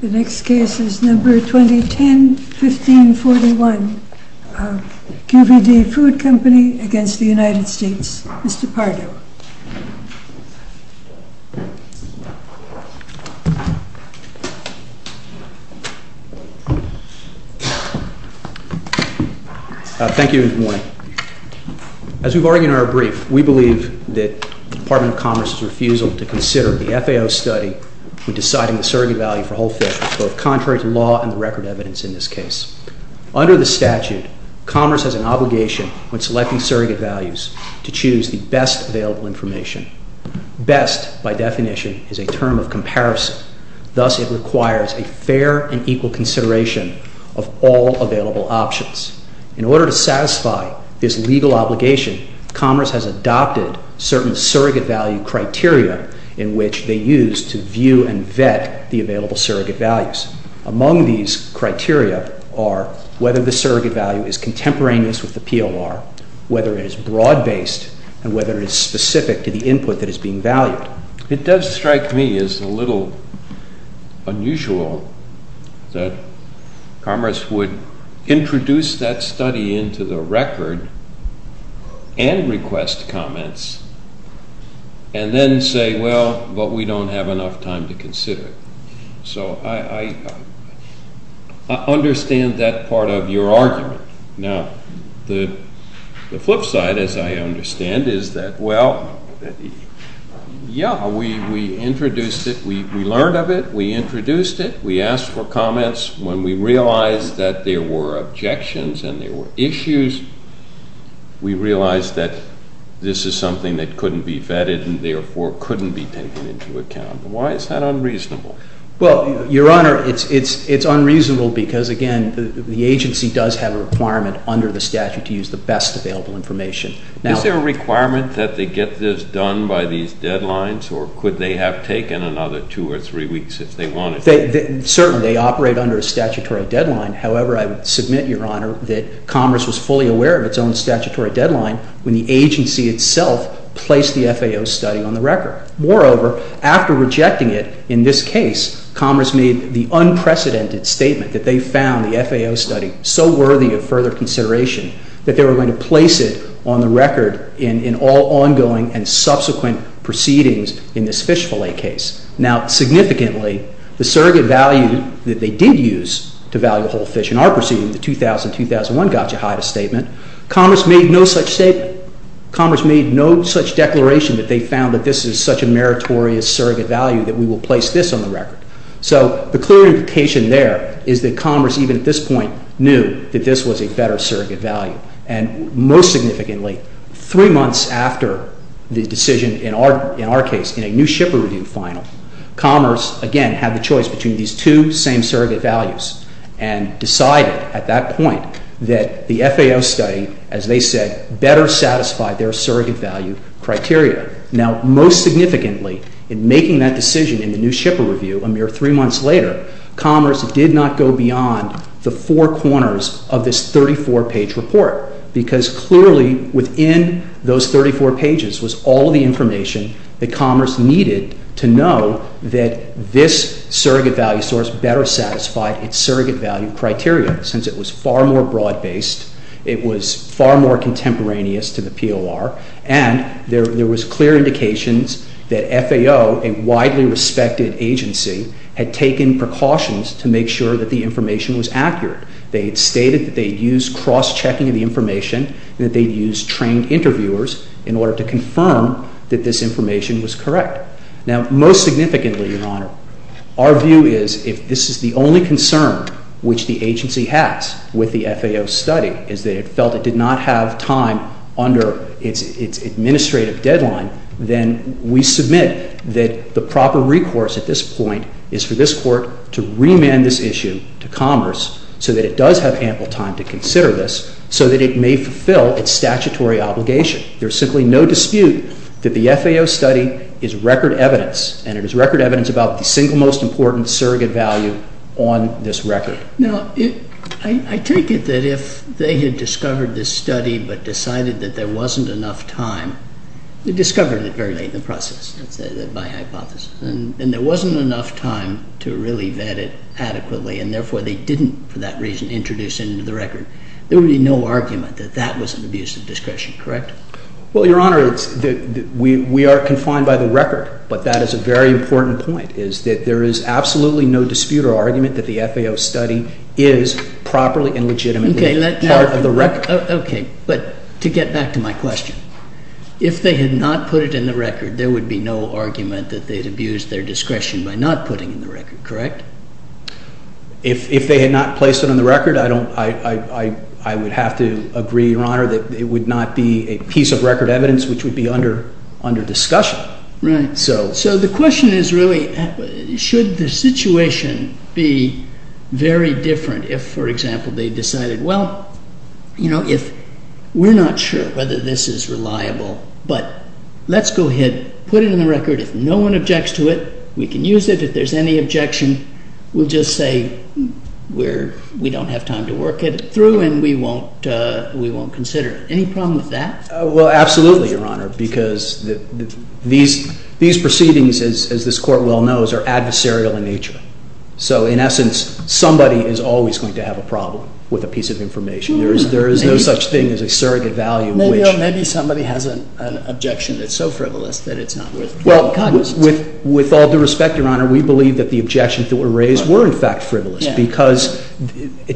The next case is number 2010-1541, QVD Food Company v. United States. Mr. Pardo. Thank you, Morning. As we've argued in our brief, we believe that the Department of Commerce's refusal to consider the FAO study in deciding the surrogate value for whole fish was both contrary to law and the record evidence in this case. Under the statute, Commerce has an obligation when selecting surrogate values to choose the best available information. Best, by definition, is a term of comparison. Thus, it requires a fair and equal consideration of all available options. In order to satisfy this legal obligation, Commerce has adopted certain surrogate value criteria in which they use to view and vet the available surrogate values. Among these criteria are whether the surrogate value is contemporaneous with the PLR, whether it is broad-based, and whether it is specific to the input that is being valued. It does strike me as a little unusual that Commerce would introduce that study into the record and request comments, and then say, well, but we don't have enough time to consider it. So I understand that part of your argument. Now, the flip side, as I understand, is that, well, yeah, we introduced it. We learned of it. We introduced it. We asked for comments. When we realized that there were objections and there were issues, we realized that this is something that couldn't be vetted and therefore couldn't be taken into account. Why is that unreasonable? Well, Your Honor, it's unreasonable because, again, the agency does have a requirement under the statute to use the best available information. Is there a requirement that they get this done by these deadlines, or could they have taken another two or three weeks if they wanted to? Certainly, they operate under a statutory deadline. However, I would submit, Your Honor, that Commerce was fully aware of its own statutory deadline when the agency itself placed the FAO study on the record. Moreover, after rejecting it in this case, Commerce made the unprecedented statement that they found the FAO study so worthy of further consideration that they were going to place it on the record in all ongoing and subsequent proceedings in this fish fillet case. Now, significantly, the surrogate value that they did use to value whole fish in our proceeding, the 2000-2001 got you high to statement. Commerce made no such statement. They found that this is such a meritorious surrogate value that we will place this on the record. So the clear implication there is that Commerce, even at this point, knew that this was a better surrogate value. And most significantly, three months after the decision, in our case, in a new shipper review final, Commerce, again, had the choice between these two same surrogate values and decided at that point that the FAO study, as they said, better satisfied their surrogate value criteria. Now, most significantly, in making that decision in the new shipper review, a mere three months later, Commerce did not go beyond the four corners of this 34-page report because clearly within those 34 pages was all the information that Commerce needed to know that this surrogate value source better satisfied its surrogate value criteria since it was far more broad-based, it was far more contemporaneous to the POR, and there was clear indications that FAO, a widely respected agency, had taken precautions to make sure that the information was accurate. They had stated that they had used cross-checking of the information and that they had used trained interviewers in order to confirm that this information was correct. Now, most significantly, Your Honor, our view is if this is the only concern which the agency has with the FAO study is that it felt it did not have time under its administrative deadline, then we submit that the proper recourse at this point is for this Court to remand this issue to Commerce so that it does have ample time to consider this so that it may fulfill its statutory obligation. There is simply no dispute that the FAO study is record evidence, and it is record evidence about the single most important surrogate value on this record. Now, I take it that if they had discovered this study but decided that there wasn't enough time, they discovered it very late in the process, that's my hypothesis, and there wasn't enough time to really vet it adequately, and therefore they didn't, for that reason, introduce it into the record, there would be no argument that that was an abuse of discretion, correct? Well, Your Honor, we are confined by the record, but that is a very important point, is that there is absolutely no dispute or argument that the FAO study is properly and legitimately part of the record. Okay, but to get back to my question, if they had not put it in the record, there would be no argument that they had abused their discretion by not putting it in the record, correct? If they had not placed it on the record, I would have to agree, Your Honor, that it would not be a piece of record evidence which would be under discussion. So the question is really, should the situation be very different if, for example, they decided, well, we're not sure whether this is reliable, but let's go ahead, put it in the record. If no one objects to it, we can use it. If there's any objection, we'll just say we don't have time to work it through and we won't consider it. Any problem with that? Well, absolutely, Your Honor, because these proceedings, as this Court well knows, are adversarial in nature. So in essence, somebody is always going to have a problem with a piece of information. There is no such thing as a surrogate value. Maybe somebody has an objection that's so frivolous that it's not worth drawing cognizance of. With all due respect, Your Honor, we believe that the objections that were raised were in fact frivolous because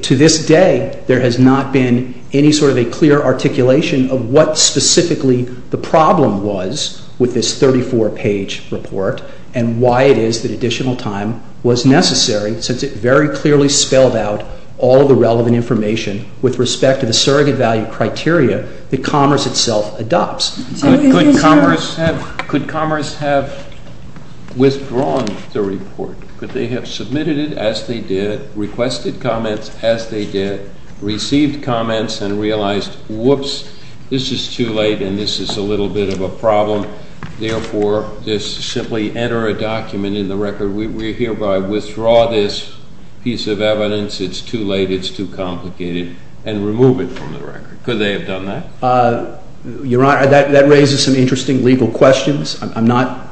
to this day there has not been any sort of a clear articulation of what specifically the problem was with this 34-page report and why it is that additional time was necessary since it very clearly spelled out all of the relevant information with respect to the surrogate value criteria that Commerce itself adopts. Could Commerce have withdrawn the report? Could they have submitted it as they did, requested comments as they did, received comments and realized, whoops, this is too late and this is a little bit of a problem, therefore, just simply enter a document in the record, we hereby withdraw this piece of evidence, it's too late, it's too complicated, and remove it from the record? Could they have done that? Your Honor, that raises some interesting legal questions. I'm not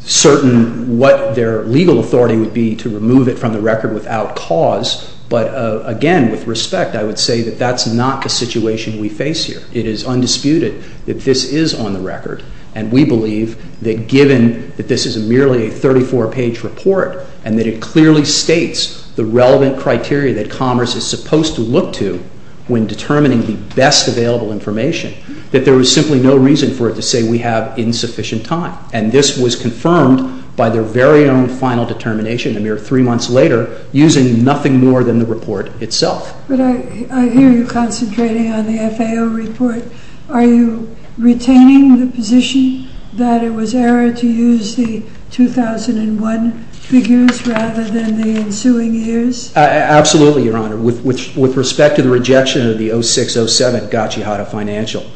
certain what their legal authority would be to remove it from the record without cause, but again, with respect, I would say that that's not the situation we face here. It is undisputed that this is on the record, and we believe that given that this is merely a 34-page report and that it clearly states the relevant criteria that Commerce is supposed to look to when determining the best available information, that there is simply no reason for it to say we have insufficient time. And this was confirmed by their very own final determination a mere three months later using nothing more than the report itself. But I hear you concentrating on the FAO report. Are you retaining the position that it was error to use the 2001 figures rather than the ensuing years? Absolutely, Your Honor. With respect to the rejection of the 06-07 Gochihata financial,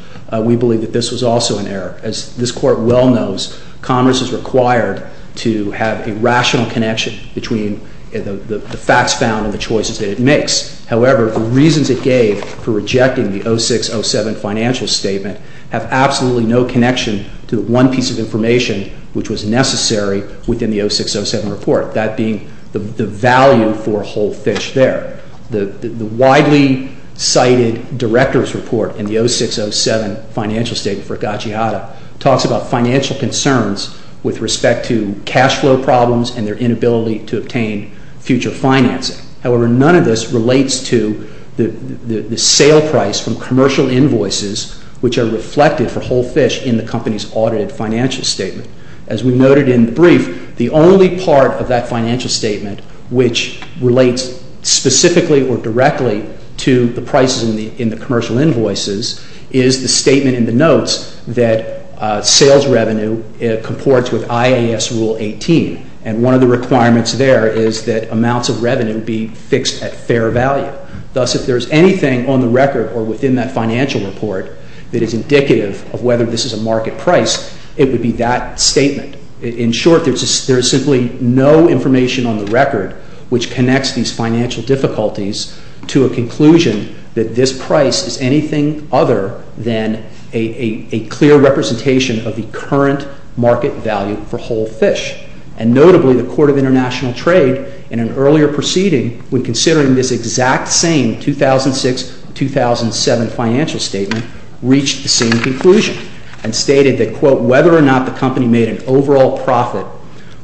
we believe that this was also an error. As this Court well knows, Commerce is required to have a rational connection between the facts found and the choices that it makes. However, the reasons it gave for rejecting the 06-07 financial statement have absolutely no connection to the one piece of information which was necessary within the 06-07 report, that being the value for Whole Fish there. The widely cited director's report in the 06-07 financial statement for Gochihata talks about financial concerns with respect to cash flow problems and their inability to obtain future financing. However, none of this relates to the sale price from commercial invoices which are reflected for Whole Fish in the company's audited financial statement. As we noted in the brief, the only part of that financial statement which relates specifically or directly to the prices in the commercial invoices is the statement in the notes that sales revenue comports with IAS Rule 18 and one of the requirements there is that amounts of revenue be fixed at fair value. Thus, if there is anything on the record or within that financial report that is indicative of whether this is a market price, it would be that statement. In short, there is simply no information on the record which connects these financial difficulties to a conclusion that this price is anything other than a clear representation of the current market value for Whole Fish. And notably, the Court of International Trade in an earlier proceeding when considering this exact same 2006-2007 financial statement reached the same conclusion and stated that whether or not the company made an overall profit,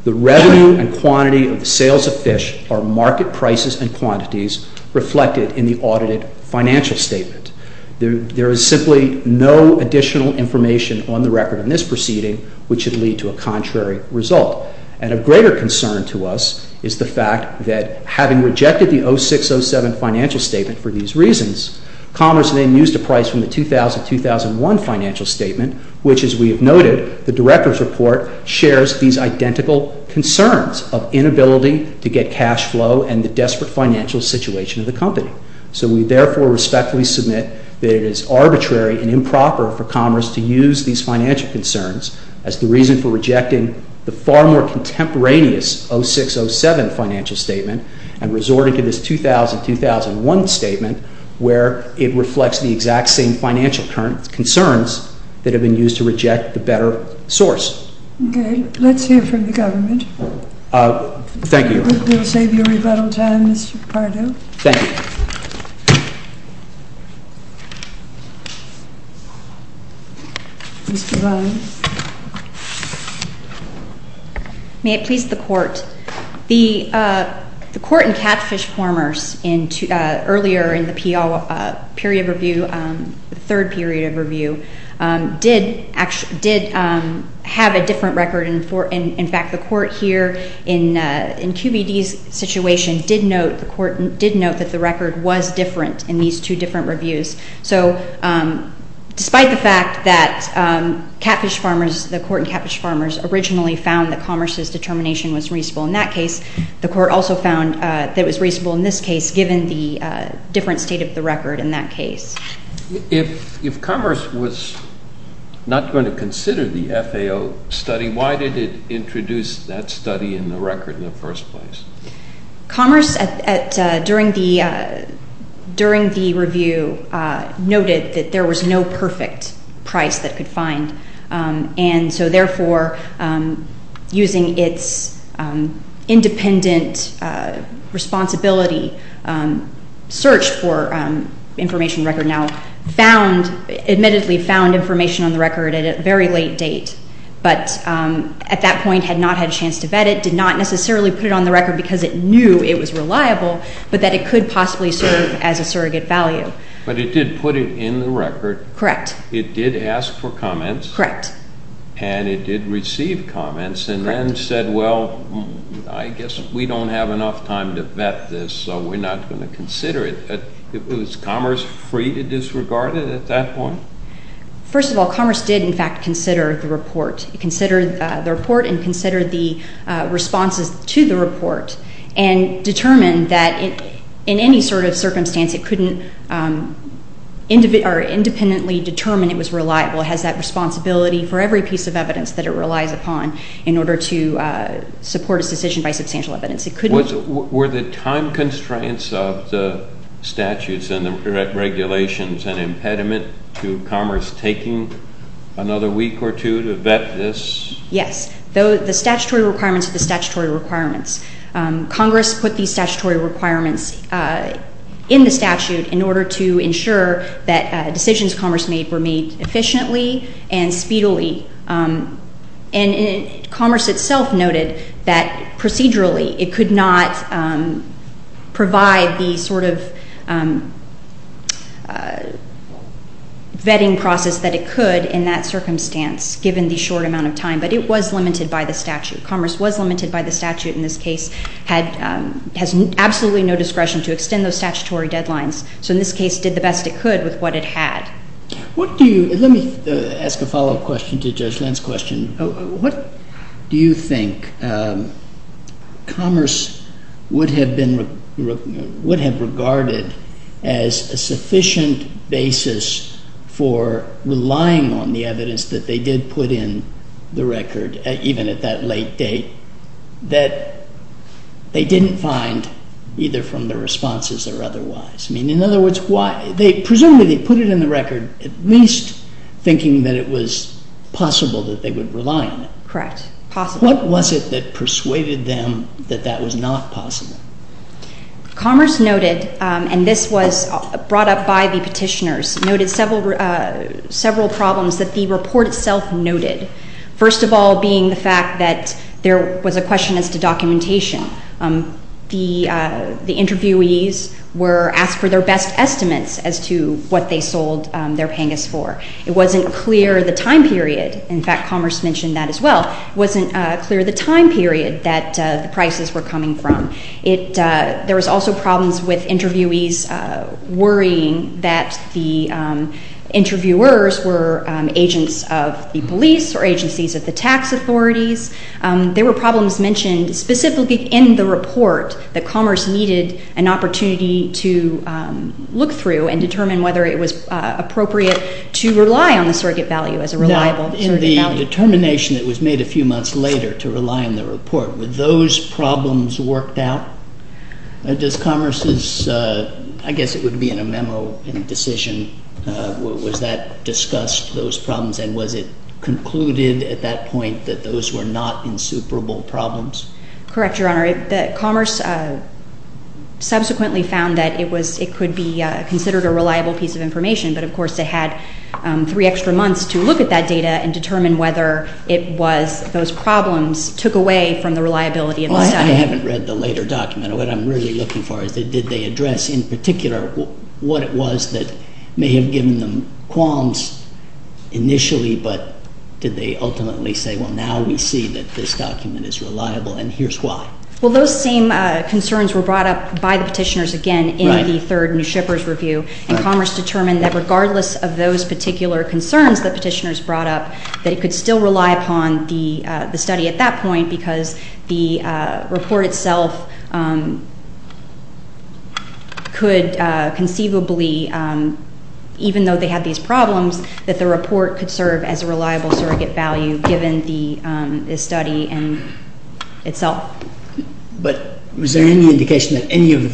the revenue and quantity of the sales of fish are market prices and quantities reflected in the audited financial statement. There is simply no additional information on the record in this proceeding which would lead to a contrary result. And of greater concern to us is the fact that having rejected the 2006-2007 financial statement for these reasons, Commerce then used a price from the 2000-2001 financial statement which, as we have noted, the Director's Report shares these identical concerns of inability to get cash flow and the desperate financial situation of the company. So we therefore respectfully submit that it is arbitrary and improper for Commerce to use these financial concerns as the reason for rejecting the far more contemporaneous 06-07 financial statement and resorting to this 2000-2001 statement where it reflects the exact same financial concerns that have been used to reject the better source. Okay. Let's hear from the government. Thank you. I hope it will save you rebuttal time, Mr. Pardo. Ms. Devine. May it please the Court. The Court and Catfish Farmers earlier in the period of review, the third period of review, did have a different record. In fact, the Court here in QBD's situation did note that the record was different in these two different reviews. So despite the fact that Catfish Farmers, the Court and Catfish Farmers, originally found that Commerce's determination was reasonable in that case, the Court also found that it was reasonable in this case given the different state of the record in that case. If Commerce was not going to consider the FAO study, why did it introduce that study in the record in the first place? Commerce, during the review, noted that there was no perfect price that it could find. And so, therefore, using its independent responsibility, search for information record now found, admittedly found information on the record at a very late date, but at that point had not had a chance to vet it, did not necessarily put it on the record because it knew it was reliable, but that it could possibly serve as a surrogate value. But it did put it in the record. Correct. It did ask for comments. Correct. And it did receive comments and then said, well, I guess we don't have enough time to vet this, so we're not going to consider it. Was Commerce free to disregard it at that point? First of all, Commerce did, in fact, consider the report. It considered the report and considered the responses to the report and determined that in any sort of circumstance it couldn't independently determine it was reliable. It has that responsibility for every piece of evidence that it relies upon in order to support a decision by substantial evidence. Were the time constraints of the statutes and the regulations an impediment to Commerce taking another week or two to vet this? Yes. The statutory requirements are the statutory requirements. Congress put these statutory requirements in the statute in order to ensure that decisions Commerce made were made efficiently and speedily. And Commerce itself noted that procedurally it could not provide the sort of vetting process that it could in that circumstance given the short amount of time, but it was limited by the statute. Commerce was limited by the statute in this case. It has absolutely no discretion to extend those statutory deadlines, so in this case it did the best it could with what it had. Let me ask a follow-up question to Judge Lynn's question. What do you think Commerce would have regarded as a sufficient basis for relying on the evidence that they did put in the record, even at that late date, that they didn't find either from the responses or otherwise? In other words, presumably they put it in the record at least thinking that it was possible that they would rely on it. Correct, possible. What was it that persuaded them that that was not possible? Commerce noted, and this was brought up by the petitioners, noted several problems that the report itself noted, first of all being the fact that there was a question as to documentation. The interviewees were asked for their best estimates as to what they sold their PANGAS for. It wasn't clear the time period. In fact, Commerce mentioned that as well. It wasn't clear the time period that the prices were coming from. There was also problems with interviewees worrying that the interviewers were agents of the police or agencies of the tax authorities. There were problems mentioned specifically in the report that Commerce needed an opportunity to look through and determine whether it was appropriate to rely on the surrogate value as a reliable surrogate value. Now, in the determination that was made a few months later to rely on the report, were those problems worked out? Does Commerce's, I guess it would be in a memo, in a decision, was that discussed, those problems, and was it concluded at that point that those were not insuperable problems? Correct, Your Honor. Commerce subsequently found that it could be considered a reliable piece of information, but of course they had three extra months to look at that data and determine whether it was those problems took away from the reliability of the study. I haven't read the later document. What I'm really looking for is did they address in particular what it was that may have given them qualms initially, but did they ultimately say, well, now we see that this document is reliable and here's why. Well, those same concerns were brought up by the petitioners again in the third New Shippers Review, and Commerce determined that regardless of those particular concerns that petitioners brought up, that it could still rely upon the study at that point because the report itself could conceivably, even though they had these problems, that the report could serve as a reliable surrogate value given the study itself. But was there any indication that any of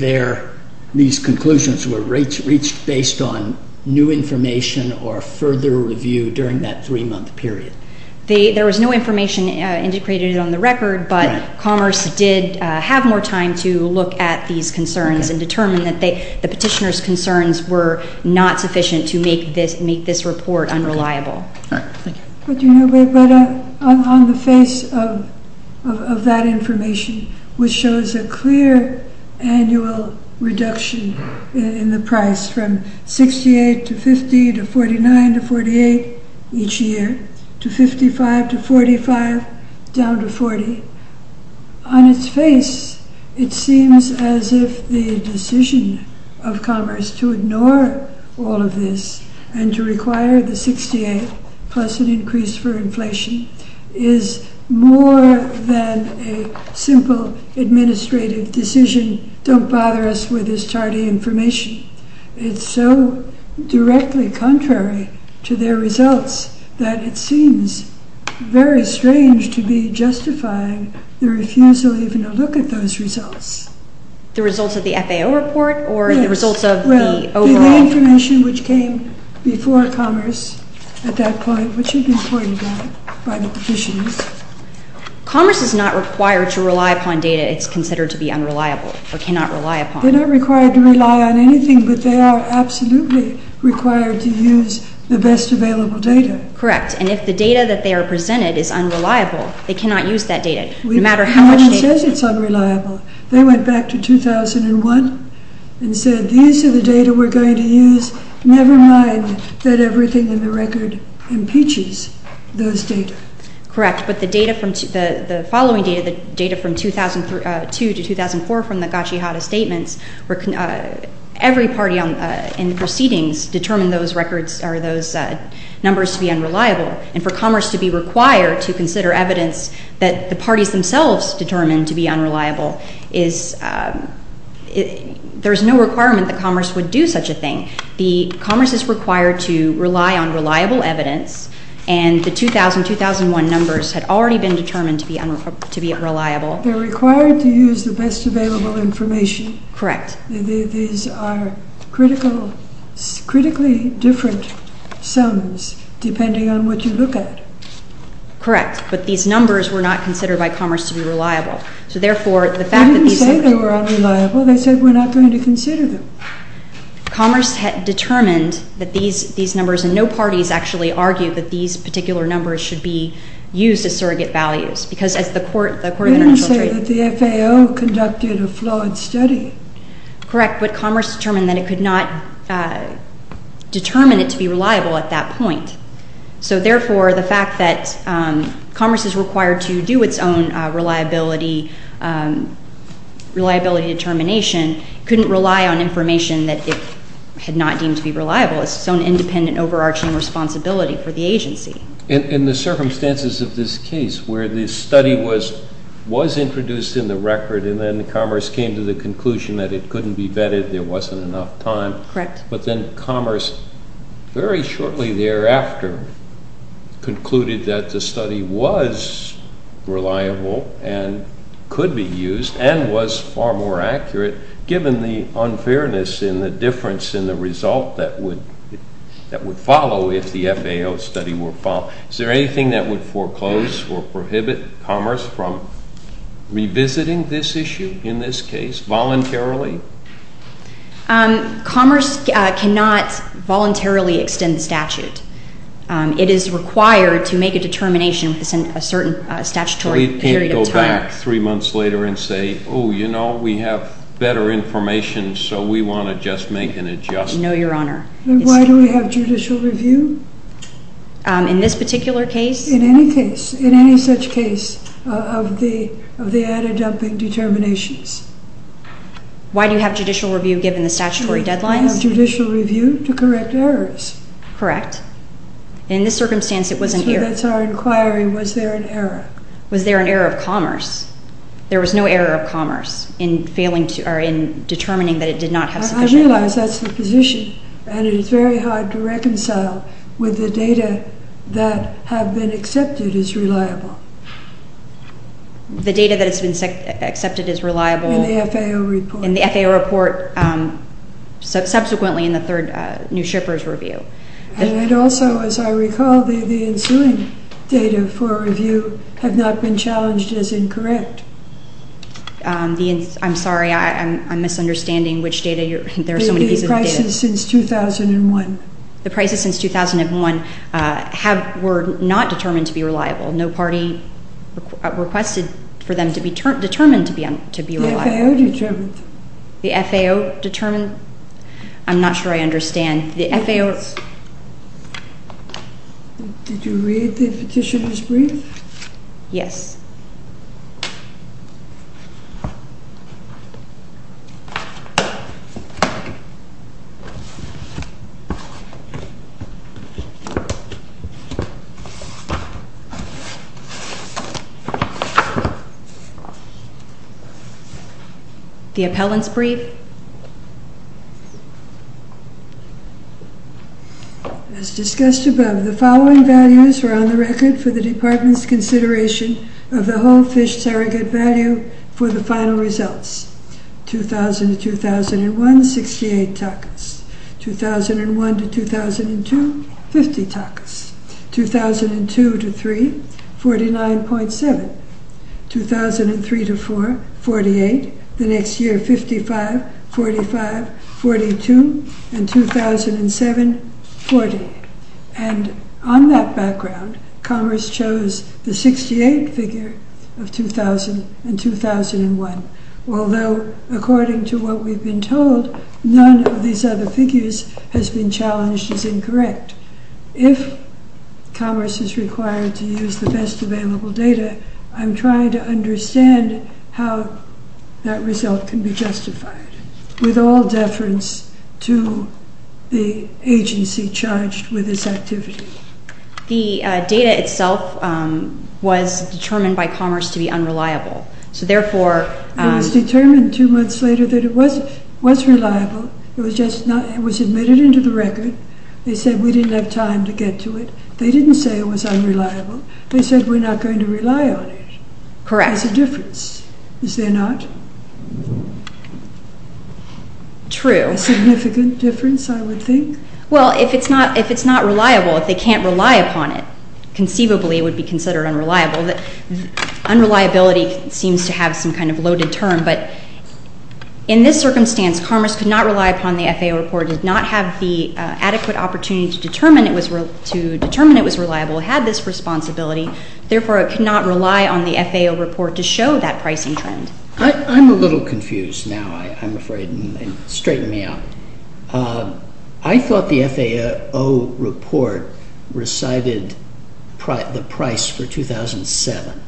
these conclusions were reached based on new information or further review during that three-month period? There was no information indicated on the record, but Commerce did have more time to look at these concerns and determine that the petitioners' concerns were not sufficient to make this report unreliable. All right. Thank you. But on the face of that information, which shows a clear annual reduction in the price from $68 to $50 to $49 to $48 each year, to $55 to $45, down to $40, on its face it seems as if the decision of Commerce to ignore all of this and to require the $68 plus an increase for inflation is more than a simple administrative decision, don't bother us with this tardy information. It's so directly contrary to their results that it seems very strange to be justifying the refusal even to look at those results. The results of the FAO report or the results of the overall... The information which came before Commerce at that point, which had been pointed out by the petitioners... Commerce is not required to rely upon data it's considered to be unreliable or cannot rely upon. They're not required to rely on anything, but they are absolutely required to use the best available data. Correct. And if the data that they are presented is unreliable, they cannot use that data, no matter how much data... No one says it's unreliable. They went back to 2001 and said, these are the data we're going to use, never mind that everything in the record impeaches those data. Correct, but the data from... The following data, the data from 2002 to 2004, from the Gatchihata statements, every party in the proceedings determined those records or those numbers to be unreliable, and for Commerce to be required to consider evidence that the parties themselves determined to be unreliable, there's no requirement that Commerce would do such a thing. Commerce is required to rely on reliable evidence, and the 2000-2001 numbers had already been determined to be unreliable. They're required to use the best available information. Correct. These are critically different sums, depending on what you look at. Correct, but these numbers were not considered by Commerce to be reliable. So therefore, the fact that these... They didn't say they were unreliable. They said, we're not going to consider them. Commerce had determined that these numbers, and no parties actually argued that these particular numbers should be used as surrogate values, because as the Court of International Trade... They didn't say that the FAO conducted a flawed study. Correct, but Commerce determined that it could not determine it to be reliable at that point. So therefore, the fact that Commerce is required to do its own reliability determination couldn't rely on information that it had not deemed to be reliable. It's its own independent, overarching responsibility for the agency. In the circumstances of this case, where the study was introduced in the record, and then Commerce came to the conclusion that it couldn't be vetted, there wasn't enough time. Correct. But then Commerce, very shortly thereafter, concluded that the study was reliable and could be used and was far more accurate, given the unfairness in the difference in the result that would follow if the FAO study were followed. Is there anything that would foreclose or prohibit Commerce from revisiting this issue, in this case, voluntarily? Commerce cannot voluntarily extend the statute. It is required to make a determination within a certain statutory period of time. So we can't go back three months later and say, oh, you know, we have better information, so we want to just make an adjustment. No, Your Honor. Then why do we have judicial review? In this particular case? In any case, in any such case, of the added-upping determinations. Why do you have judicial review given the statutory deadlines? I have judicial review to correct errors. Correct. In this circumstance, it wasn't here. So that's our inquiry. Was there an error? Was there an error of Commerce? There was no error of Commerce in determining that it did not have sufficient data. I realize that's the position, and it is very hard to reconcile with the data that have been accepted as reliable. The data that has been accepted as reliable? In the FAO report. In the FAO report, subsequently in the third New Shippers Review. And also, as I recall, the ensuing data for review have not been challenged as incorrect. I'm sorry, I'm misunderstanding which data you're – there are so many pieces of data. The prices since 2001. The prices since 2001 were not determined to be reliable. No party requested for them to be determined to be reliable. The FAO determined. The FAO determined? I'm not sure I understand. The FAO – Did you read the Petitioner's Brief? Yes. Thank you. The Appellant's Brief. As discussed above, the following values are on the record for the Department's consideration of the whole fish surrogate value for the final results. 2000 to 2001, 68 takas. 2001 to 2002, 50 takas. 2002 to 3, 49.7. 2003 to 4, 48. The next year, 55, 45, 42. And 2007, 40. And on that background, Commerce chose the 68 figure of 2000 and 2001. Although, according to what we've been told, none of these other figures has been challenged as incorrect. If Commerce is required to use the best available data, I'm trying to understand how that result can be justified, with all deference to the agency charged with this activity. The data itself was determined by Commerce to be unreliable, so therefore – It was determined two months later that it was reliable. It was just not – it was admitted into the record. They said we didn't have time to get to it. They didn't say it was unreliable. They said we're not going to rely on it. Correct. There's a difference, is there not? True. A significant difference, I would think. Well, if it's not reliable, if they can't rely upon it, conceivably it would be considered unreliable. Unreliability seems to have some kind of loaded term, but in this circumstance, Commerce could not rely upon the FAO report, did not have the adequate opportunity to determine it was reliable, had this responsibility, therefore it could not rely on the FAO report to show that pricing trend. I'm a little confused now, I'm afraid. Straighten me out. I thought the FAO report recited the price for 2007,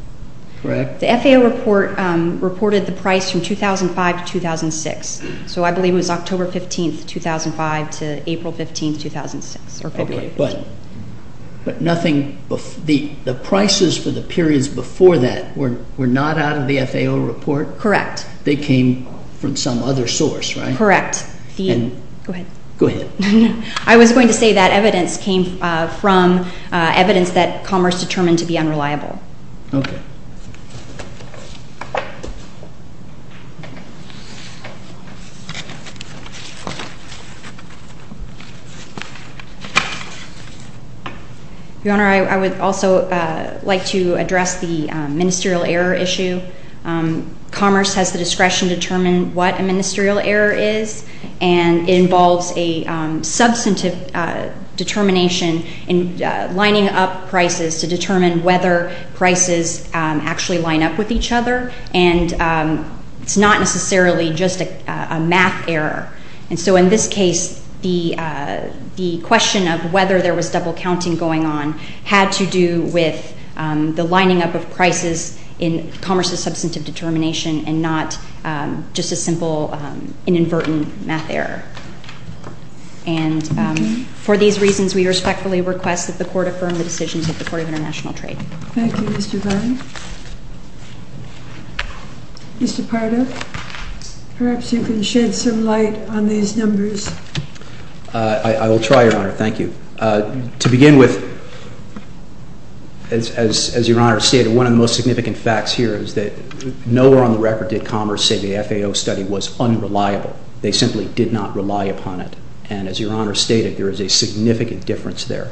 correct? The FAO report reported the price from 2005 to 2006, so I believe it was October 15th, 2005 to April 15th, 2006. Okay, but nothing – the prices for the periods before that were not out of the FAO report? Correct. They came from some other source, right? Correct. Go ahead. Go ahead. I was going to say that evidence came from evidence that Commerce determined to be unreliable. Okay. Your Honor, I would also like to address the ministerial error issue. Commerce has the discretion to determine what a ministerial error is, and it involves a substantive determination in lining up prices to determine whether prices actually line up with each other, and it's not necessarily just a math error. And so in this case, the question of whether there was double counting going on had to do with the lining up of prices in Commerce's substantive determination and not just a simple inadvertent math error. And for these reasons, we respectfully request that the Court affirm the decisions of the Court of International Trade. Thank you, Mr. Vine. Mr. Pardo, perhaps you can shed some light on these numbers. I will try, Your Honor. Thank you. To begin with, as Your Honor stated, one of the most significant facts here is that nowhere on the record did Commerce say the FAO study was unreliable. They simply did not rely upon it. And as Your Honor stated, there is a significant difference there.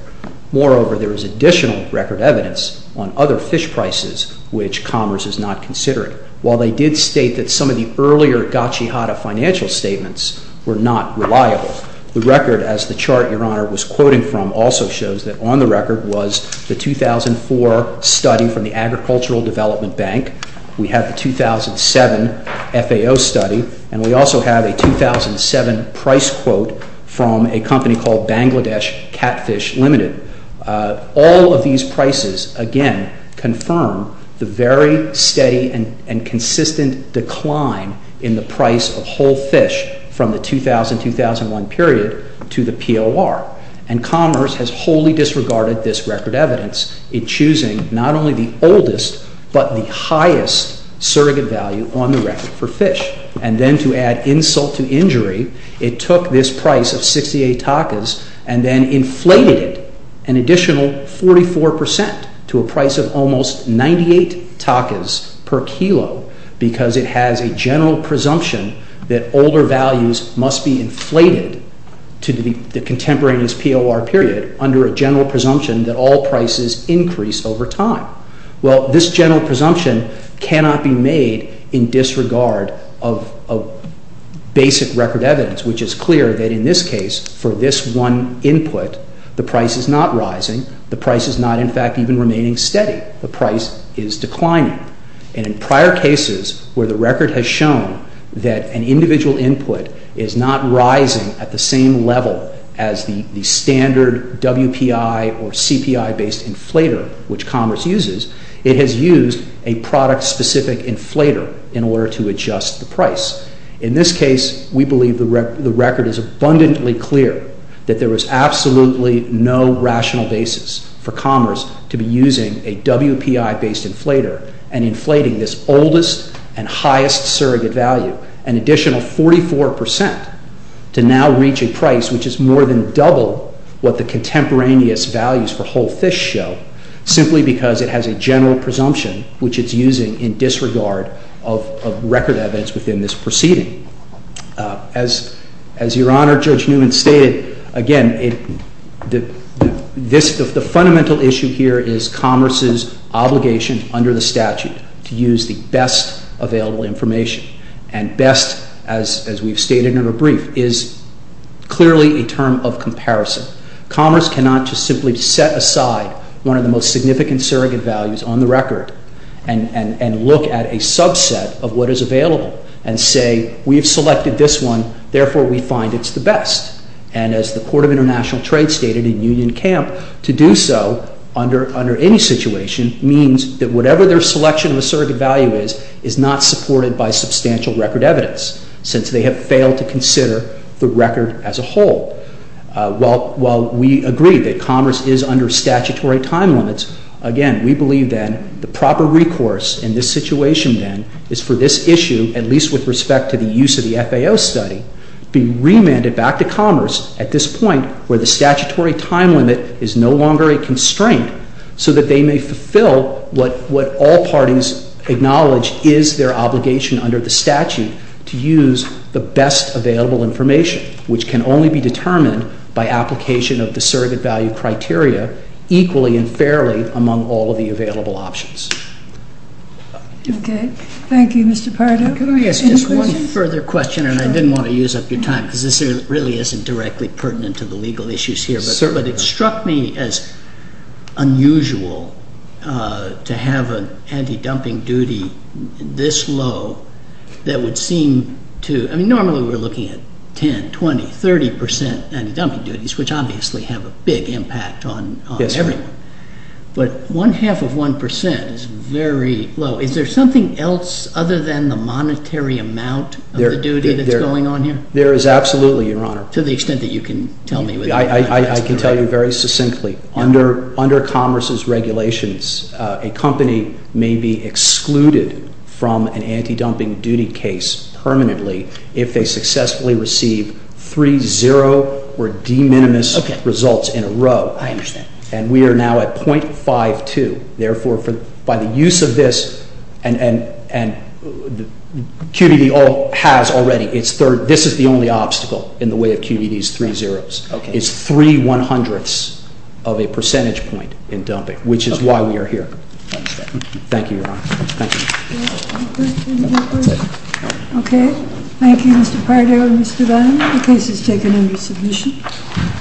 Moreover, there is additional record evidence on other fish prices which Commerce is not considering. While they did state that some of the earlier gotcha-hotta financial statements were not reliable, the record, as the chart Your Honor was quoting from, also shows that on the record was the 2004 study from the Agricultural Development Bank. We have the 2007 FAO study. And we also have a 2007 price quote from a company called Bangladesh Catfish Limited. All of these prices, again, confirm the very steady and consistent decline in the price of whole fish from the 2000-2001 period to the POR. And Commerce has wholly disregarded this record evidence in choosing not only the oldest but the highest surrogate value on the record for fish. And then to add insult to injury, it took this price of 68 takas and then inflated it an additional 44 percent to a price of almost 98 takas per kilo because it has a general presumption that older values must be inflated to the contemporaneous POR period under a general presumption that all prices increase over time. Well, this general presumption cannot be made in disregard of basic record evidence, which is clear that in this case, for this one input, the price is not rising. The price is not, in fact, even remaining steady. The price is declining. And in prior cases where the record has shown that an individual input is not rising at the same level as the standard WPI or CPI-based inflator, which Commerce uses, it has used a product-specific inflator in order to adjust the price. In this case, we believe the record is abundantly clear that there is absolutely no rational basis for Commerce to be using a WPI-based inflator and inflating this oldest and highest surrogate value, an additional 44 percent, to now reach a price which is more than double what the contemporaneous values for whole fish show, simply because it has a general presumption which it's using in disregard of record evidence within this proceeding. As Your Honor, Judge Newman stated, again, the fundamental issue here is Commerce's obligation under the statute to use the best available information. And best, as we've stated in our brief, is clearly a term of comparison. Commerce cannot just simply set aside one of the most significant surrogate values on the record and look at a subset of what is available and say, we've selected this one, therefore we find it's the best. And as the Court of International Trade stated in Union Camp, to do so under any situation means that whatever their selection of a surrogate value is, is not supported by substantial record evidence, since they have failed to consider the record as a whole. While we agree that Commerce is under statutory time limits, again, we believe then the proper recourse in this situation then is for this issue, at least with respect to the use of the FAO study, be remanded back to Commerce at this point where the statutory time limit is no longer a constraint, so that they may fulfill what all parties acknowledge is their obligation under the statute, to use the best available information, which can only be determined by application of the surrogate value criteria, equally and fairly among all of the available options. Okay. Thank you, Mr. Pardo. Can I ask just one further question? Sure. And I didn't want to use up your time because this really isn't directly pertinent to the legal issues here. But it struck me as unusual to have an anti-dumping duty this low that would seem to, I mean, normally we're looking at 10, 20, 30% anti-dumping duties, which obviously have a big impact on everyone. Yes. But one half of 1% is very low. Is there something else other than the monetary amount of the duty that's going on here? There is absolutely, Your Honor. To the extent that you can tell me. I can tell you very succinctly. Under Commerce's regulations, a company may be excluded from an anti-dumping duty case permanently if they successfully receive 3-0 or de minimis results in a row. I understand. And we are now at .52. Therefore, by the use of this, and QDD has already, this is the only obstacle in the way of QDD's 3-0s. Okay. It's three one-hundredths of a percentage point in dumping, which is why we are here. I understand. Thank you, Your Honor. Thank you. Okay. Thank you, Mr. Pardo and Mr. Dunn. The case is taken under submission.